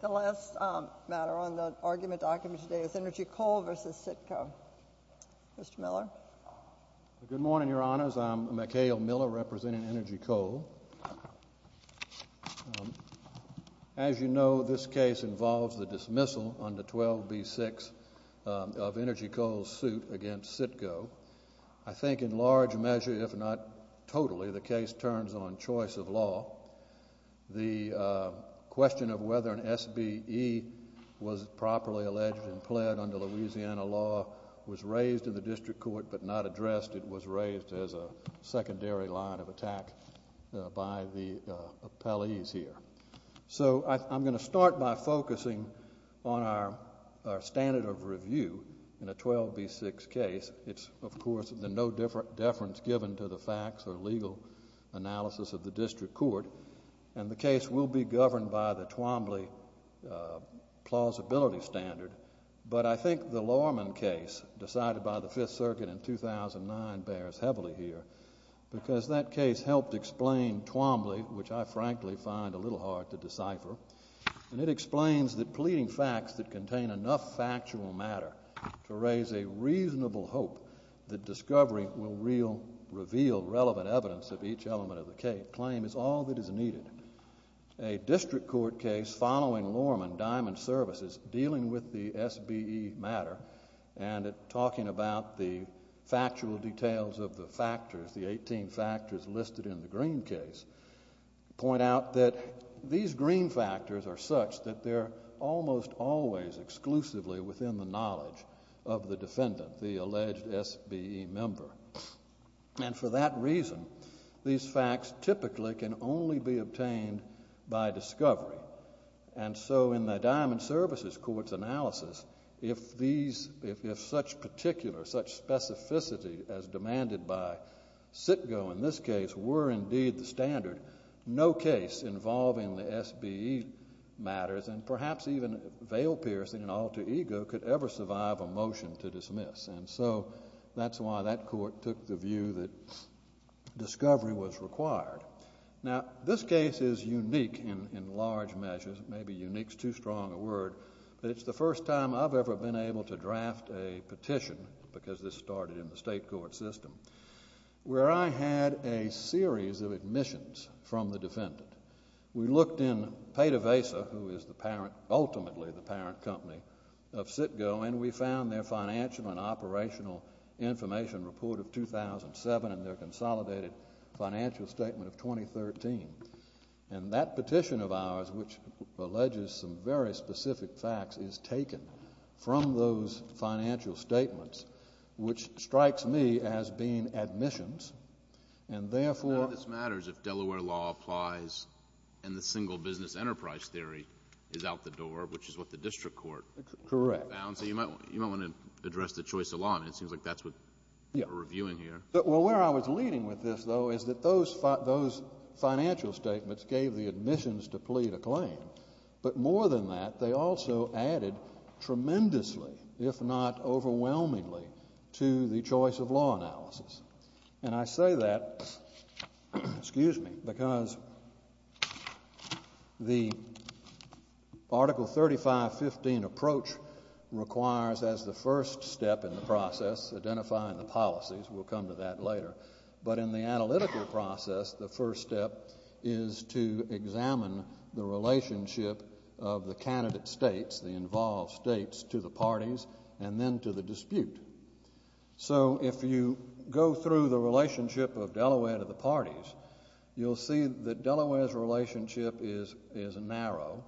The last matter on the argument document today is Energy Coal v. CITGO. Mr. Miller? Good morning, Your Honors. I'm McHale Miller, representing Energy Coal. As you know, this case involves the dismissal under 12B-6 of Energy Coal's suit against CITGO. I think in large measure, if not totally, the case turns on choice of law. The question of whether an SBE was properly alleged and pled under Louisiana law was raised in the district court but not addressed. It was raised as a secondary line of attack by the appellees here. So I'm going to start by focusing on our standard of review in a 12B-6 case. It's, of course, the no deference given to the facts or legal analysis of the district court. And the case will be governed by the Twombly plausibility standard. But I think the Lorman case decided by the Fifth Circuit in 2009 bears heavily here because that case helped explain Twombly, which I frankly find a little hard to decipher. And it explains that pleading facts that contain enough factual matter to raise a reasonable hope that discovery will reveal relevant evidence of each element of the claim is all that is needed. A district court case following Lorman, Diamond Services, dealing with the SBE matter and talking about the factual details of the factors, the 18 factors listed in the Green case, point out that these Green factors are such that they're almost always exclusively within the knowledge of the defendant, the alleged SBE member. And for that reason, these facts typically can only be obtained by discovery. And so in the Diamond Services court's analysis, if these, if such particular, such specificity as demanded by Sitko in this case were indeed the standard, no case involving the SBE matters and perhaps even veil-piercing and alter ego could ever survive a motion to dismiss. And so that's why that court took the view that discovery was required. Now, this case is unique in large measures. Maybe unique's too strong a word. But it's the first time I've ever been able to draft a petition, because this started in the state court system, where I had a series of admissions from the defendant. We looked in Payda Vesa, who is the parent, ultimately the parent company of Sitko, and we found their financial and operational information report of 2007 and their consolidated financial statement of 2013. And that petition of ours, which alleges some very specific facts, is taken from those financial statements, which strikes me as being admissions, and therefore the court's decision to dismiss. But none of this matters if Delaware law applies and the single business enterprise theory is out the door, which is what the district court found. Correct. So you might want to address the choice of law. And it seems like that's what we're reviewing here. Well, where I was leading with this, though, is that those financial statements gave the admissions to plead a claim. But more than that, they also added tremendously, if not more, because the Article 3515 approach requires, as the first step in the process, identifying the policies. We'll come to that later. But in the analytical process, the first step is to examine the relationship of the candidate states, the involved states, to the parties and then to the dispute. So if you go through the relationship of Delaware to the parties, you'll see that Delaware's relationship is narrow.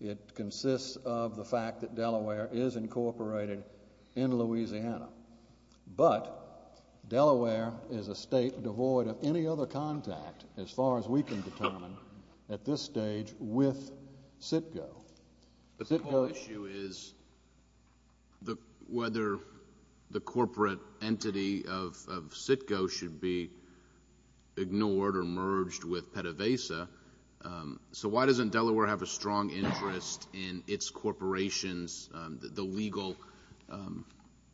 It consists of the fact that Delaware is incorporated in Louisiana. But Delaware is a state devoid of any other contact, as far as we can determine, at this stage with CITGO. But the whole issue is whether the corporate entity of CITGO should be ignored or merged with PETAVASA. So why doesn't Delaware have a strong interest in its corporations, the legal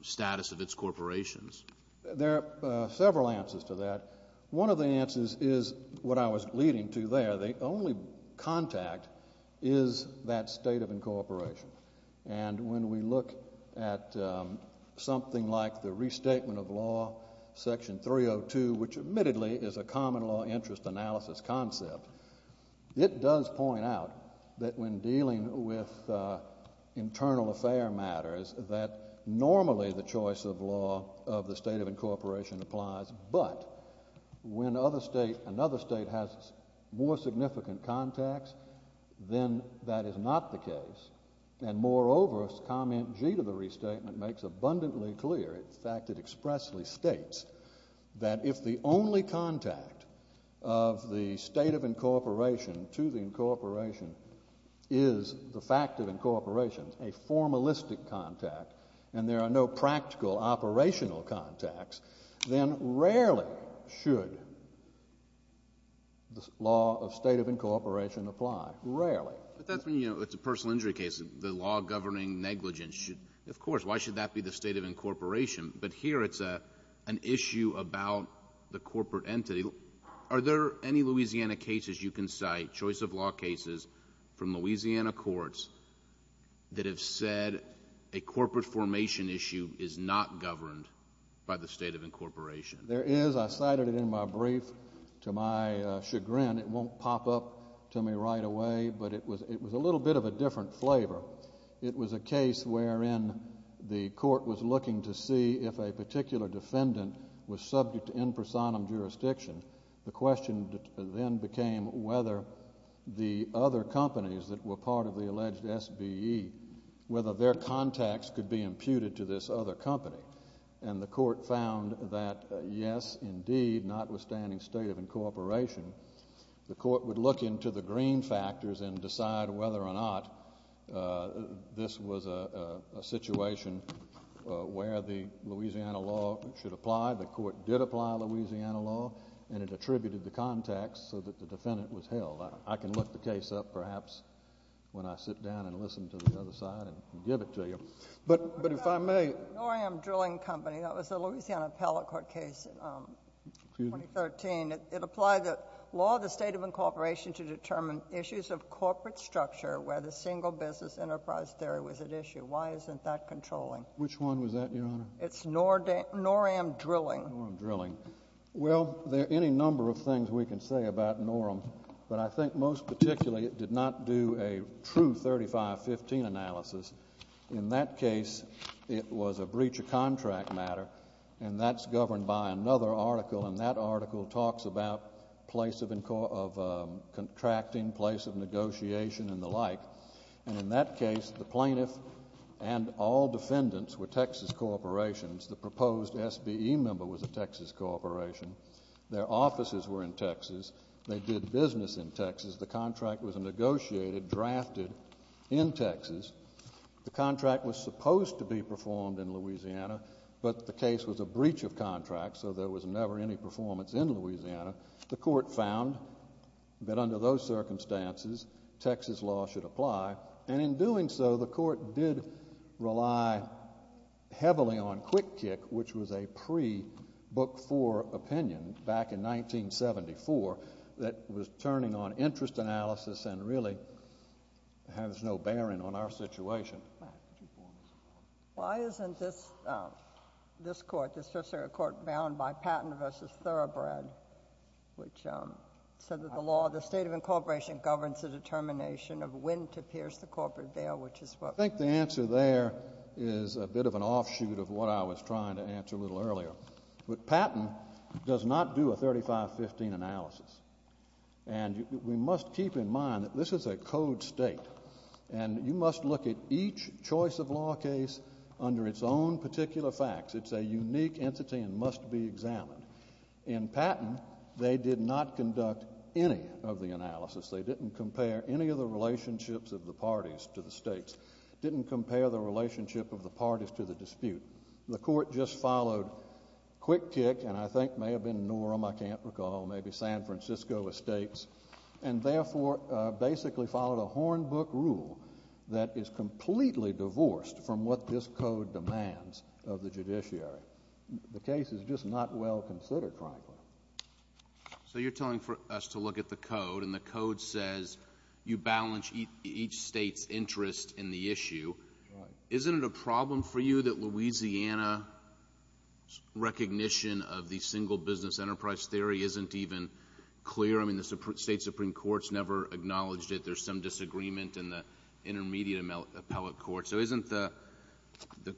status of its corporations? There are several answers to that. One of the answers is what I was leading to there. The only contact is that state of incorporation. And when we look at something like the restatement of law, Section 302, which admittedly is a common law interest analysis concept, it does point out that when dealing with internal affair matters, that normally the choice of the state of incorporation applies. But when another state has more significant contacts, then that is not the case. And moreover, Comment G to the restatement makes abundantly clear, in fact, it expressly states, that if the only contact of the state of incorporation to the incorporation is the fact of incorporation, a formalistic contact, and there are no practical operational contacts, then rarely should the law of state of incorporation apply. Rarely. But that's when, you know, it's a personal injury case. The law governing negligence should, of course, why should that be the state of incorporation? But here it's an issue about the corporate entity. Are there any Louisiana cases you can cite, choice of law cases from Louisiana courts that have said a corporate formation issue is not the right to be governed by the state of incorporation? There is. I cited it in my brief. To my chagrin, it won't pop up to me right away, but it was a little bit of a different flavor. It was a case wherein the court was looking to see if a particular defendant was subject to in personam jurisdiction. The question then became whether the other companies that were part of the alleged SBE, whether their contacts could be imputed to this other company. And the court found that yes, indeed, notwithstanding state of incorporation, the court would look into the green factors and decide whether or not this was a situation where the Louisiana law should apply. The court did apply Louisiana law, and it attributed the contacts so that the defendant was held. I can look the case up, perhaps, when I sit down and listen to the other side, and give it to you. But if I may. Noram Drilling Company. That was a Louisiana appellate court case in 2013. It applied the law of the state of incorporation to determine issues of corporate structure where the single business enterprise theory was at issue. Why isn't that controlling? Which one was that, Your Honor? It's Noram Drilling. Noram Drilling. Well, there are any number of things we can say about Noram, but I think most particularly it did not do a true 3515 analysis. In that case, it was a breach of contract matter, and that's governed by another article, and that article talks about place of contracting, place of negotiation, and the like. And in that case, the plaintiff and all defendants were Texas corporations. The proposed SBE member was a Texas corporation. Their offices were in Texas. They did business in Texas. The contract was negotiated, drafted in Texas. The contract was supposed to be performed in Louisiana, but the case was a breach of contract, so there was never any performance in Louisiana. The court found that under those circumstances, Texas law should apply, and in doing so, the court did rely heavily on QuickKick, which was a pre-Book IV opinion back in 1974 that was turning on interest analysis and really has no bearing on our situation. Why isn't this court, this tertiary court, bound by Patent v. Thoroughbred, which is so that the law, the state of incorporation governs the determination of when to pierce the corporate bail, which is what we're talking about. I think the answer there is a bit of an offshoot of what I was trying to answer a little earlier. Patent does not do a 3515 analysis, and we must keep in mind that this is a code state, and you must look at each choice of law case under its own particular facts. It's a unique entity and must be examined. In Patent, they did not conduct any of the analysis. They didn't compare any of the relationships of the parties to the states, didn't compare the relationship of the parties to the dispute. The court just followed QuickKick, and I think may have been Norham, I can't recall, maybe San Francisco Estates, and therefore basically followed a Hornbook rule that is completely divorced from what this code demands of the case. The case is just not well considered, frankly. So you're telling for us to look at the code, and the code says you balance each state's interest in the issue. Isn't it a problem for you that Louisiana's recognition of the single business enterprise theory isn't even clear? I mean, the state Supreme Court's never acknowledged it. There's some disagreement in the intermediate appellate court. So isn't the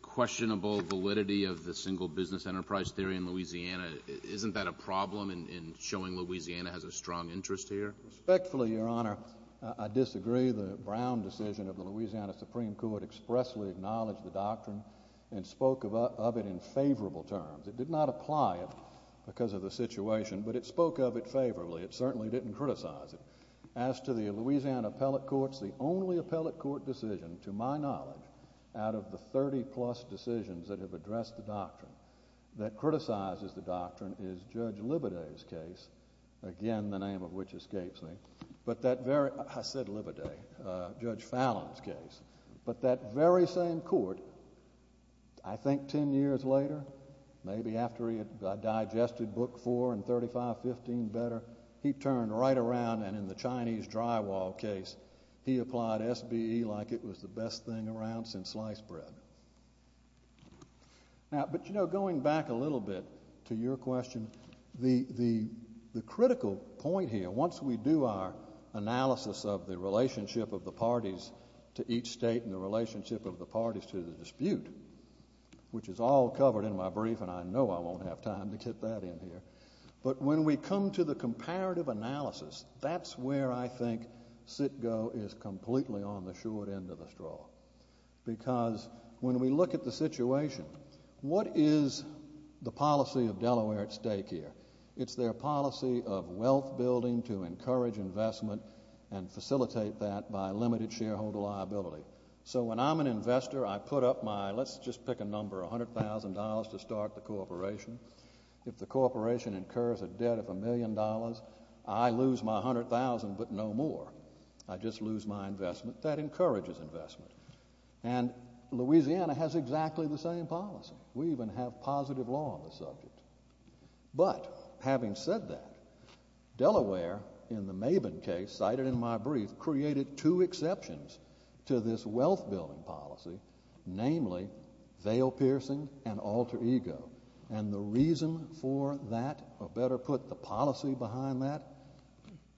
questionable validity of the single business enterprise theory in Louisiana, isn't that a problem in showing Louisiana has a strong interest here? Respectfully, Your Honor, I disagree. The Brown decision of the Louisiana Supreme Court expressly acknowledged the doctrine and spoke of it in favorable terms. It did not apply it because of the situation, but it spoke of it favorably. It certainly didn't criticize it. As to the Louisiana appellate courts, the only appellate court decision, to my knowledge, out of the 30-plus decisions that have addressed the doctrine that criticizes the doctrine is Judge Libideau's case, again, the name of which escapes me. But that very, I said Libideau, Judge Fallon's case. But that very same court, I think 10 years later, maybe after he had digested Book 4 and 3515 better, he turned right around and in the Chinese drywall case, he applied SBE like it was the best thing around since sliced bread. Now, but you know, going back a little bit to your question, the critical point here, once we do our analysis of the relationship of the parties to each state and the relationship of the parties to the dispute, which is all covered in my brief and I know I won't have time to get that in here, but when we come to the comparative analysis, that's where I think CITGO is completely on the short end of the straw. Because when we look at the situation, what is the policy of Delaware at stake here? It's their policy of wealth building to encourage investment and facilitate that by limited shareholder liability. So when I'm an investor, I put up my, let's just pick a number, $100,000 to start the corporation. If the corporation incurs a debt of $1 million, I lose my $100,000 but no more. I just lose my investment. That encourages investment. And Louisiana has exactly the same policy. We even have positive law on the subject. But having said that, Delaware in the Mabin case, cited in my brief, created two exceptions to this wealth building policy, namely veil-piercing and alter ego. And the reason for that, or better put, the policy behind that,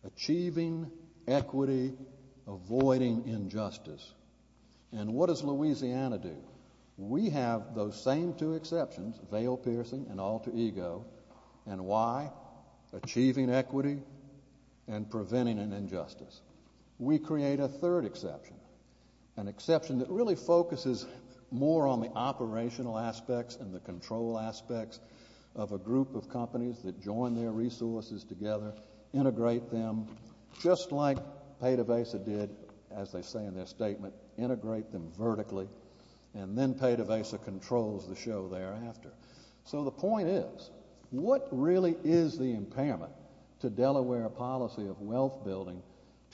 achieving equity, avoiding injustice. And what does Louisiana do? We have those same two exceptions, veil-piercing and alter ego. And why? Achieving equity and preventing an injustice. We create a third exception, an exception that really focuses more on the operational aspects and the control aspects of a group of companies that join their resources together, integrate them, just like Peta Vesa did, as they say in their statement, integrate them vertically. And then Peta Vesa controls the show thereafter. So the point is, what really is the impairment to Delaware policy of wealth building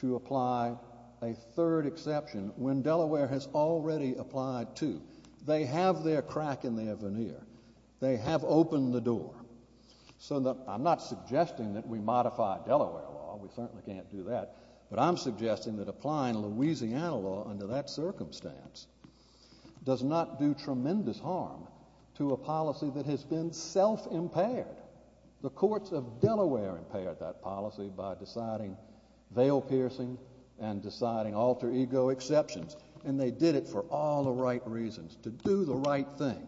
to apply a third exception when Delaware has already applied two? They have their crack in their veneer. They have opened the door. So I'm not suggesting that we modify Delaware law, we certainly can't do that, but I'm suggesting that applying Louisiana law under that circumstance does not do tremendous harm to a policy that has been self-impaired. The courts of Delaware impaired that policy by deciding veil-piercing and deciding alter ego exceptions, and they did it for all the right reasons, to do the right thing.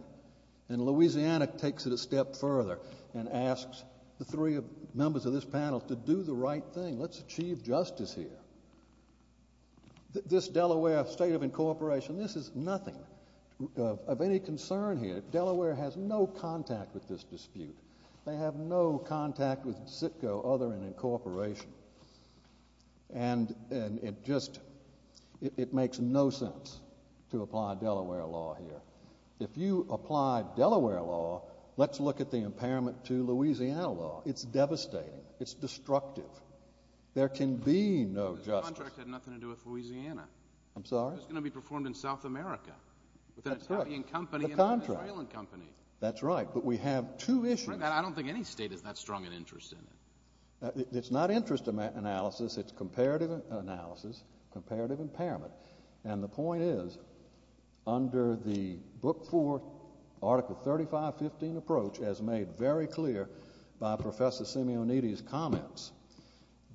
And Louisiana takes it a step further and asks the three members of this panel to do the right thing. Let's achieve comparative incorporation. This is nothing of any concern here. Delaware has no contact with this dispute. They have no contact with CITCO other than incorporation. And it just it makes no sense to apply Delaware law here. If you apply Delaware law, let's look at the impairment to Louisiana law. It's devastating. It's destructive. There can be no justice. The contract had nothing to do with Louisiana. I'm sorry? It was going to be performed in South America with an Italian company and an Israeli company. That's right, but we have two issues. I don't think any state is that strong an interest in it. It's not interest analysis, it's comparative analysis, comparative impairment. And the point is, under the Book 4, Article 3515 approach, as made very clear by Professor Simeonetti's comments,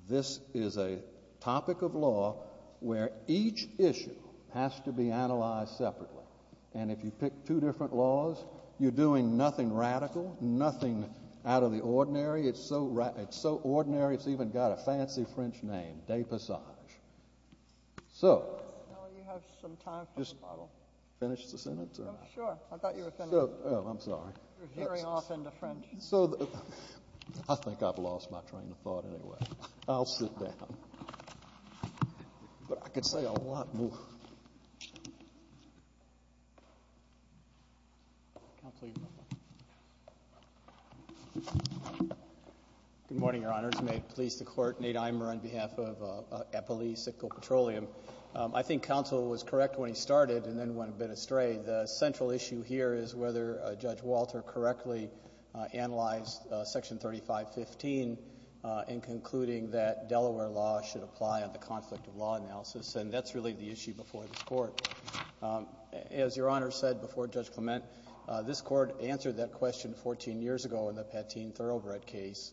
this is a topic of law where each issue has to be analyzed separately. And if you pick two different laws, you're doing nothing radical, nothing out of the ordinary. It's so ordinary, it's even got a fancy French name, dépassage. So just finish the sentence or? Sure. I thought you were finished. Oh, I'm sorry. You're veering off into French. So I think I've lost my train of thought anyway. I'll sit down. But I could say a lot more. Counsel Eberl. Good morning, Your Honors. May it please the Court. Nate Eimer on behalf of Eppley Sickle Petroleum. I think counsel was correct when he started and then went a bit astray. The central issue here is whether Judge Walter correctly analyzed Section 3515 in concluding that Delaware law should apply on the conflict of law analysis. And that's really the issue before this Court. As Your Honor said before Judge Clement, this Court answered that question 14 years ago in the Pateen Thoroughbred case,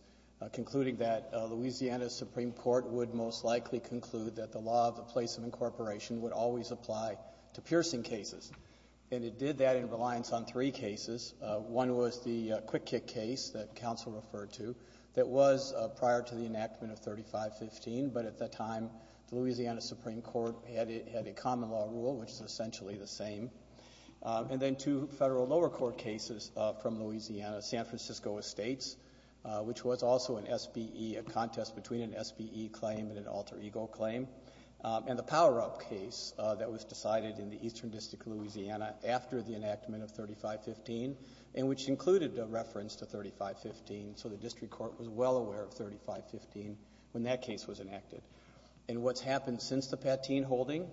concluding that Louisiana Supreme Court would most likely conclude that the law of the place of incorporation would always apply to piercing cases. And it did that in reliance on three cases. One was the Quick Kick case that counsel referred to that was prior to the enactment of 3515, but at the time the Louisiana Supreme Court had a common law rule, which is essentially the same. And then two federal lower court cases from Louisiana, San Francisco Estates, which was also an SBE, a contest between an SBE claim and an alter ego claim. And the Power Up case that was decided in the Eastern District of Louisiana after the enactment of 3515, and which included a reference to 3515, so the district court was well aware of 3515 when that case was enacted. And what's happened since the Pateen holding,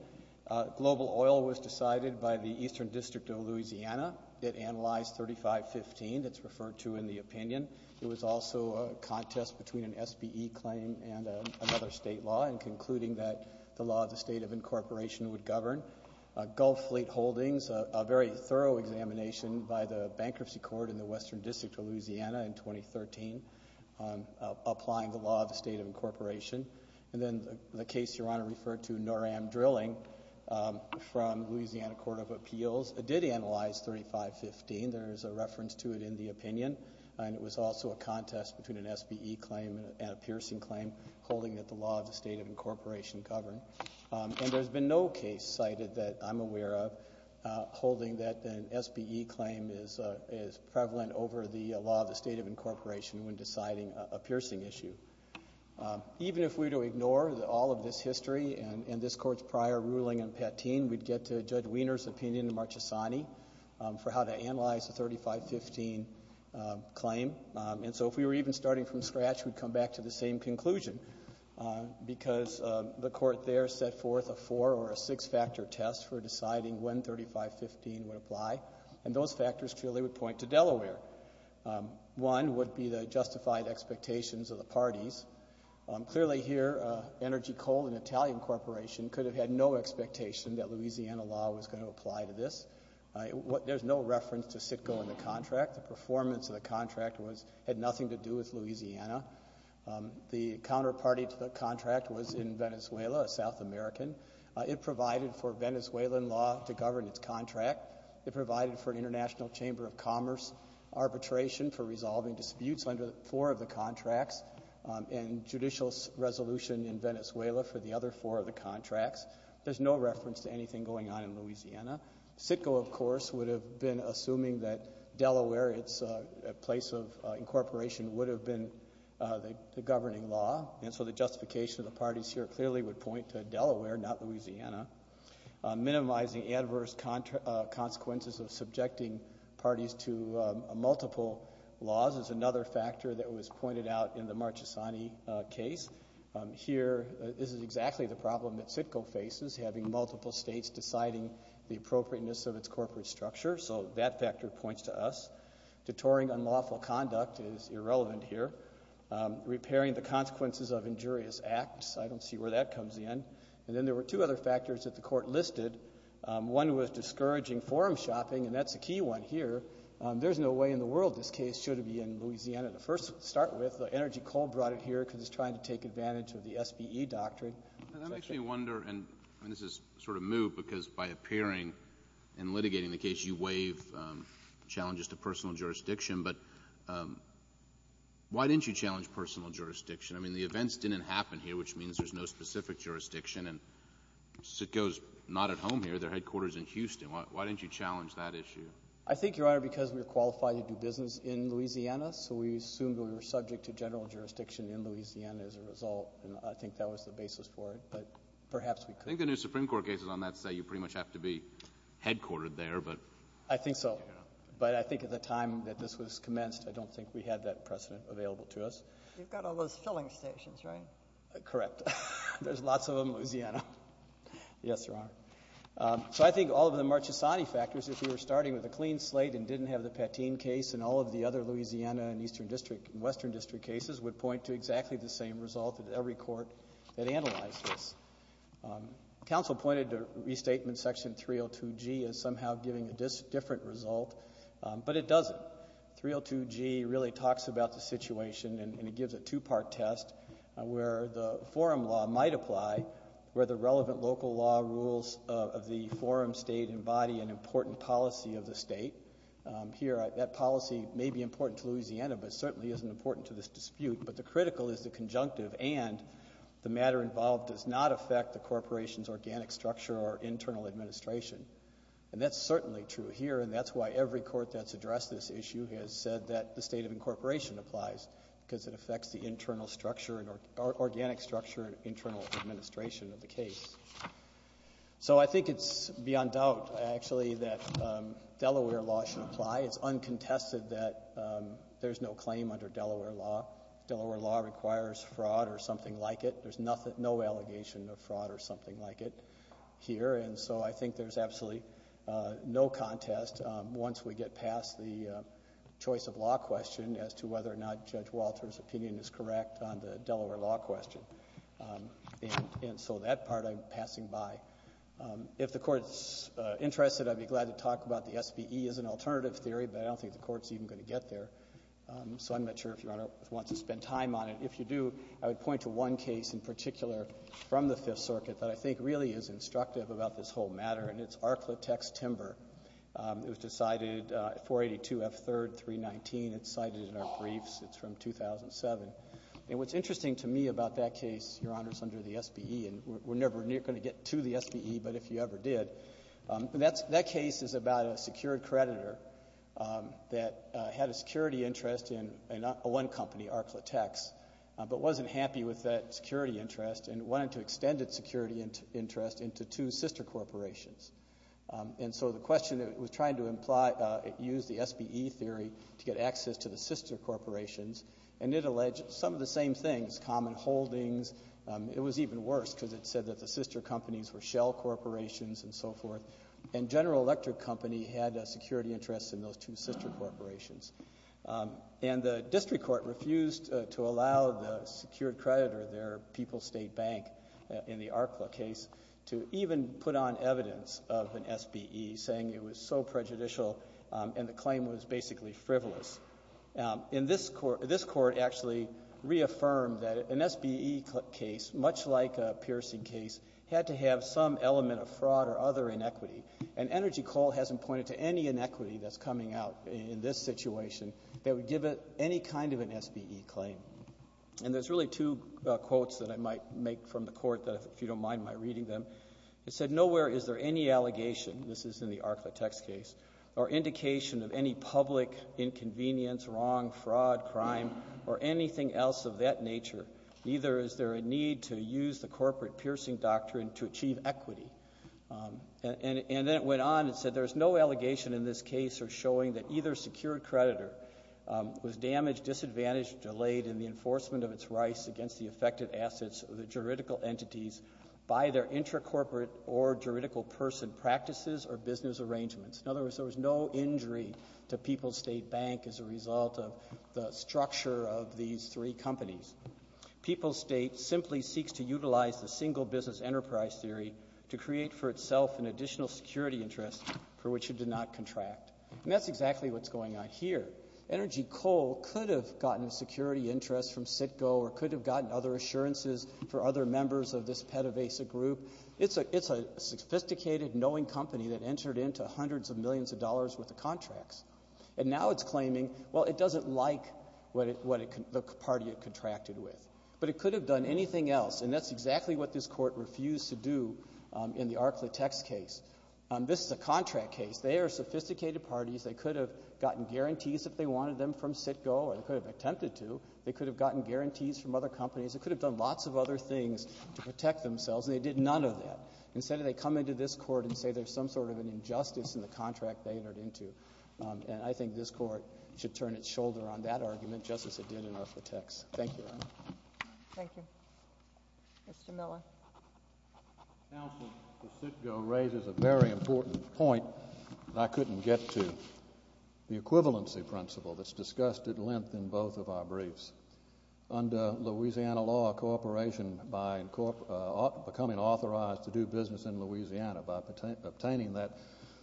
global oil was decided by the Eastern District of Louisiana. It analyzed 3515. That's referred to in the opinion. It was also a contest between an SBE claim and another State law in concluding that the law of the state of incorporation would govern. Gulf Fleet Holdings, a very thorough examination by the Bankruptcy Court in the Western District of Louisiana in 2013, applying the law of the state of incorporation. And then the case Your Honor referred to, Noram Drilling, from Louisiana Court of Appeals, did analyze 3515. There's a reference to it in the opinion. And it was also a contest between an SBE claim and a piercing claim holding that the law of the state of incorporation governed. And there's been no case cited that I'm aware of holding that an SBE claim is prevalent over the law of the state of incorporation when deciding a piercing issue. Even if we were to ignore all of this history and this Court's prior ruling in Pateen, we'd get to Judge Wiener's opinion in Marchesani for how to analyze the 3515 claim. And so if we were even starting from scratch, we'd come back to the same conclusion, because the Court there set forth a four- or a six-factor test for deciding when 3515 would apply. And those factors truly would point to Delaware. One would be the justified expectations of the parties. Clearly here, Energy Coal, an Italian corporation, could have had no expectation that Louisiana law was going to apply to this. There's no reference to Citgo in the contract. The performance of the contract had nothing to do with Louisiana. The counterparty to the contract was in Venezuela, a South American. It provided for Venezuelan law to govern its contract. It provided for an International Chamber of Commerce arbitration for resolving disputes under four of the contracts, and judicial resolution in Venezuela for the other four of the contracts. There's no reference to anything going on in Louisiana. Citgo, of course, would have been assuming that Delaware, its place of incorporation, would have been the governing law. And so the justification of the parties here clearly would point to Delaware, not Louisiana. Minimizing adverse consequences of subjecting parties to multiple laws is another factor that was pointed out in the Marchesani case. Here, this is exactly the problem that Citgo faces, having multiple states deciding the appropriateness of its corporate structure. So that factor points to us. Detouring unlawful conduct is irrelevant here. Repairing the consequences of injurious acts, I don't see where that comes in. And then there were two other factors that the Court listed. One was discouraging forum shopping, and that's a key one here. There's no way in the world this case should be in Louisiana to first start with. Energy Coal brought it here because it's trying to take advantage of the SBE doctrine. And that makes me wonder, and this is sort of moot, because by appearing and litigating the case, you waive challenges to personal jurisdiction. But why didn't you challenge personal jurisdiction? I mean, the events didn't happen here, which means there's no specific jurisdiction. And Citgo's not at home here. Their headquarters is in Houston. Why didn't you challenge that issue? I think, Your Honor, because we're qualified to do business in Louisiana. So we assumed we were subject to general jurisdiction in Louisiana as a result. And I think that was the basis for it. But perhaps we could. I think the new Supreme Court cases on that say you pretty much have to be headquartered there, but. I think so. But I think at the time that this was commenced, I don't think we had that precedent available to us. You've got all those filling stations, right? Correct. There's lots of them in Louisiana. Yes, Your Honor. So I think all of the Marchesani factors, if you were starting with a clean slate and didn't have the Pateen case in all of the other Louisiana and Eastern District and Western District cases, would point to exactly the same result that every court that analyzed this. Counsel pointed to restatement section 302G as somehow giving a different result, but it doesn't. 302G really talks about the situation and it gives a two-part test where the forum law might apply, where the relevant local law rules of the forum state embody an important policy of the state. Here, that policy may be important to Louisiana, but certainly isn't important to this dispute. But the critical is the conjunctive and the matter involved does not affect the corporation's organic structure or internal administration. And that's certainly true here, and that's why every court that's addressed this issue has said that the state of incorporation applies, because it affects the internal structure and organic structure and internal administration of the case. So I think it's beyond doubt, actually, that Delaware law should apply. It's uncontested that there's no claim under Delaware law. Delaware law requires fraud or something like it. There's nothing, no allegation of fraud or something like it here. And so I think there's absolutely no contest once we get past the choice of law question as to whether or not Judge Walter's opinion is correct on the Delaware law question. And so that part I'm passing by. If the Court's interested, I'd be glad to talk about the SBE as an alternative theory, but I don't think the Court's even going to get there. So I'm not sure if Your Honor, there's one case in particular from the Fifth Circuit that I think really is instructive about this whole matter, and it's Arklatex Timber. It was decided 482 F. 3rd 319. It's cited in our briefs. It's from 2007. And what's interesting to me about that case, Your Honor, it's under the SBE, and we're never going to get to the SBE, but if you ever did, that case is about a secured creditor that had a security interest in one company, Arklatex, but wasn't happy with that security interest and wanted to extend its security interest into two sister corporations. And so the question was trying to use the SBE theory to get access to the sister corporations, and it alleged some of the same things, common holdings. It was even worse because it said that the sister companies were shell corporations and so forth. And General Electric Company had a security interest in those two sister corporations. And the district court refused to allow the secured creditor there, People's State Bank, in the Arkla case, to even put on evidence of an SBE, saying it was so prejudicial and the claim was basically frivolous. In this court, this court actually reaffirmed that an SBE case, much like a piercing case, had to have some element of fraud or other inequity. And Energy Coal hasn't pointed to any inequity that's coming out in this situation that would give it any kind of an SBE claim. And there's really two quotes that I might make from the court that, if you don't mind my reading them, it said, nowhere is there any allegation, this is in the Arklatex case, or indication of any public inconvenience, wrong, fraud, crime, or anything else of that doctrine to achieve equity. And then it went on and said, there's no allegation in this case or showing that either secured creditor was damaged, disadvantaged, delayed in the enforcement of its rights against the affected assets of the juridical entities by their intracorporate or juridical person practices or business arrangements. In other words, there was no injury to People's State Bank as a result of the structure of these three companies. People's State simply seeks to utilize the single business enterprise theory to create for itself an additional security interest for which it did not contract. And that's exactly what's going on here. Energy Coal could have gotten a security interest from CITGO or could have gotten other assurances for other members of this PETAVASA group. It's a sophisticated, knowing company that entered into hundreds of millions of dollars with the contracts. And now it's claiming, well, it doesn't like what it can — the party it contracted with. But it could have done anything else. And that's exactly what this Court refused to do in the Arklatex case. This is a contract case. They are sophisticated parties. They could have gotten guarantees if they wanted them from CITGO, or they could have attempted to. They could have gotten guarantees from other companies. They could have done lots of other things to protect themselves, and they did none of that. Instead of they come into this Court and say there's some sort of an injustice in the contract they entered into. And I think this Court should turn its shoulder on that argument just as it did in Arklatex. Thank you, Your Honor. Thank you. Mr. Miller. Counsel, the CITGO raises a very important point that I couldn't get to, the equivalency principle that's discussed at length in both of our briefs. Under Louisiana law, a corporation, by becoming authorized to do business in Louisiana, by obtaining that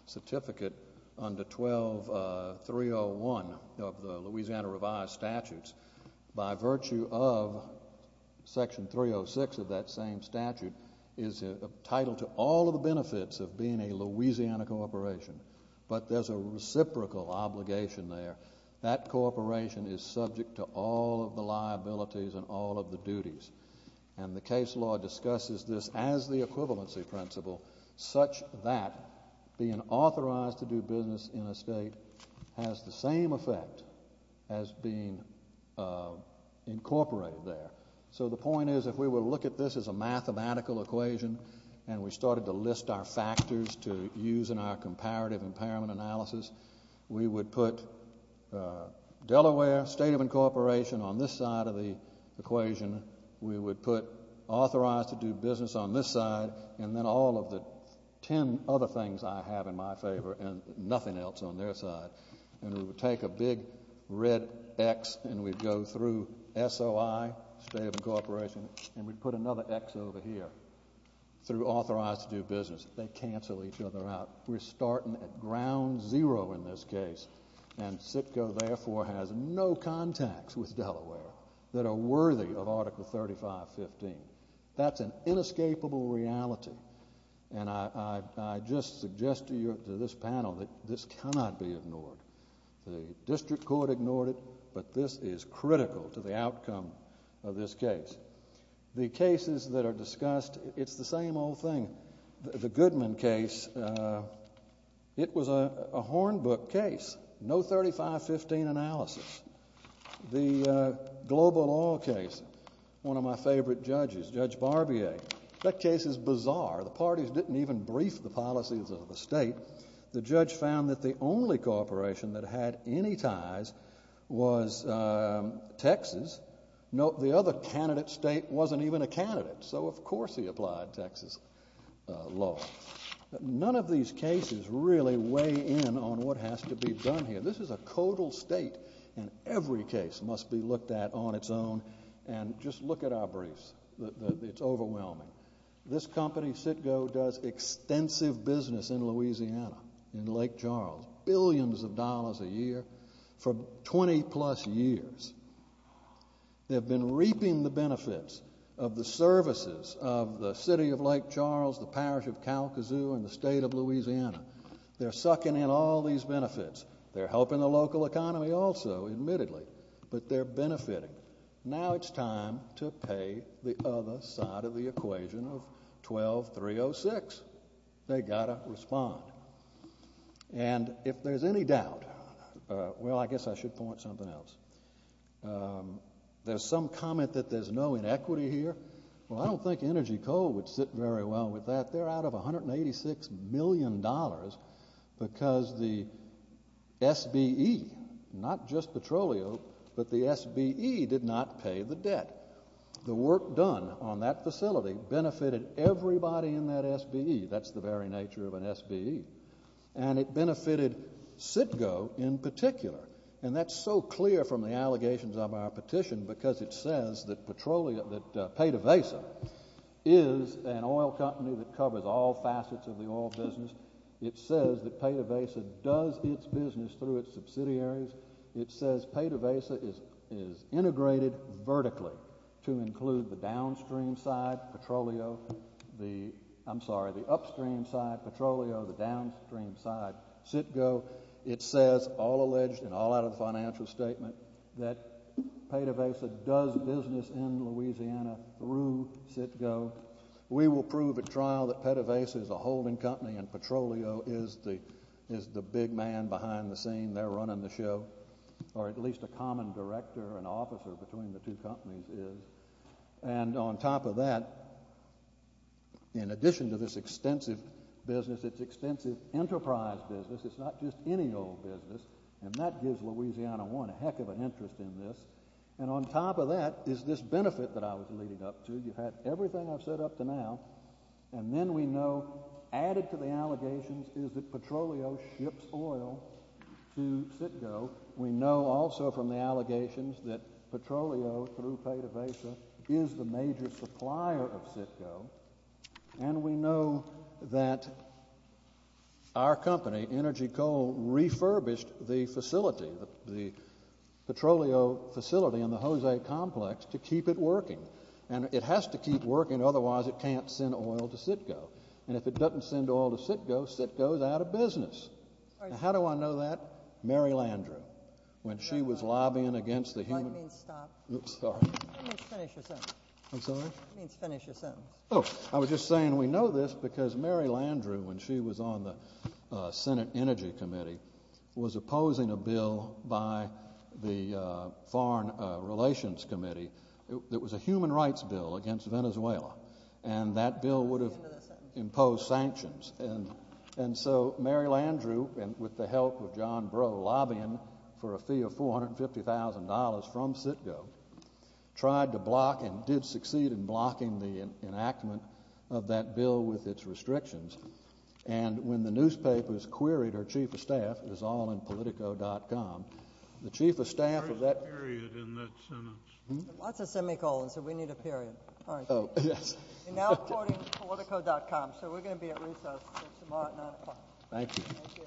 certificate under 12.301 of the Louisiana revised statutes, by virtue of section 306 of that same statute, is entitled to all of the benefits of being a Louisiana corporation. But there's a reciprocal obligation there. That corporation is subject to all of the liabilities and all of the duties. And the case law discusses this as the equivalency principle, such that being authorized to do business in a state has the same effect as being incorporated there. So the point is, if we were to look at this as a mathematical equation, and we started to list our factors to use in our comparative impairment analysis, we would put Delaware, state of incorporation, on this side of the and then all of the ten other things I have in my favor and nothing else on their side. And we would take a big red X and we'd go through SOI, state of incorporation, and we'd put another X over here, through authorized to do business. They cancel each other out. We're starting at ground zero in this case. And CITGO, therefore, has no contacts with reality. And I just suggest to this panel that this cannot be ignored. The district court ignored it, but this is critical to the outcome of this case. The cases that are discussed, it's the same old thing. The Goodman case, it was a Hornbook case, no 35-15 analysis. The Global Oil case, one of my favorite judges, Judge Barbier, that case is bizarre. The parties didn't even brief the policies of the state. The judge found that the only corporation that had any ties was Texas. The other candidate state wasn't even a candidate, so of course he applied Texas law. None of these cases really weigh in on what has to be done here. This is a codal state, and every case must be looked at on its own. And just look at our briefs. It's overwhelming. This company, CITGO, does extensive business in Louisiana, in Lake Charles, billions of dollars a year for 20-plus years. They've been reaping the benefits of the services of the city of Lake Charles, the parish of Kalkazoo, and the state of Louisiana. They're sucking in all these benefits. They're helping the local economy also, admittedly, but they're benefiting. Now it's time to pay the other side of the equation of 12-306. They've got to respond. And if there's any doubt, well, I guess I should point something else. There's some comment that there's no inequity here. Well, I don't think Energy Coal would sit very well with that. They're out of $186 million because the SBE, not just Petroleo, but the SBE did not pay the debt. The work done on that facility benefited everybody in that SBE. That's the very nature of an SBE. And it benefited CITGO in particular. And that's so clear from the allegations of our petition because it says that Petroleo, that Peta Vesa is an oil company that covers all facets of the oil business. It says that Peta Vesa does its business through its subsidiaries. It says Peta Vesa is integrated vertically to include the downstream side, Petroleo, the I'm sorry, the upstream side, Petroleo, the downstream side, CITGO. It says, all alleged and all out of the financial statement, that Peta Vesa does business in Louisiana through CITGO. We will prove at trial that Peta Vesa is a holding company and Petroleo is the big man behind the scene. They're running the show, or at least a common director and officer between the two companies is. And on top of that, in addition to this extensive business, it's extensive enterprise business. It's not just any old business. And that gives Louisiana one a heck of an interest in this. And on top of that is this benefit that I was leading up to. You've had everything I've said up to now. And then we know added to the allegations is that Petroleo ships oil to CITGO. We know also from the allegations that Petroleo through our company, Energy Coal, refurbished the facility, the Petroleo facility in the Jose Complex, to keep it working. And it has to keep working. Otherwise, it can't send oil to CITGO. And if it doesn't send oil to CITGO, CITGO is out of business. Now, how do I know that? Mary Landrieu, when she was lobbying against the human I'm sorry. I was just saying we know this because Mary Landrieu, when she was on the Senate Energy Committee, was opposing a bill by the Foreign Relations Committee that was a human rights bill against Venezuela. And that bill would have imposed sanctions. And so Mary Landrieu, with the help of John Breaux, lobbying for a fee of $450,000 from CITGO, tried to block and did succeed in blocking the enactment of that bill with its restrictions. And when the newspapers queried her chief of staff, it was all in Politico.com, the chief of staff of that There's a period in that sentence. Lots of semicolons, so we need a period. All right. Oh, yes. And now according to Politico.com. So we're going to be at recess tomorrow at 9 o'clock. Thank you.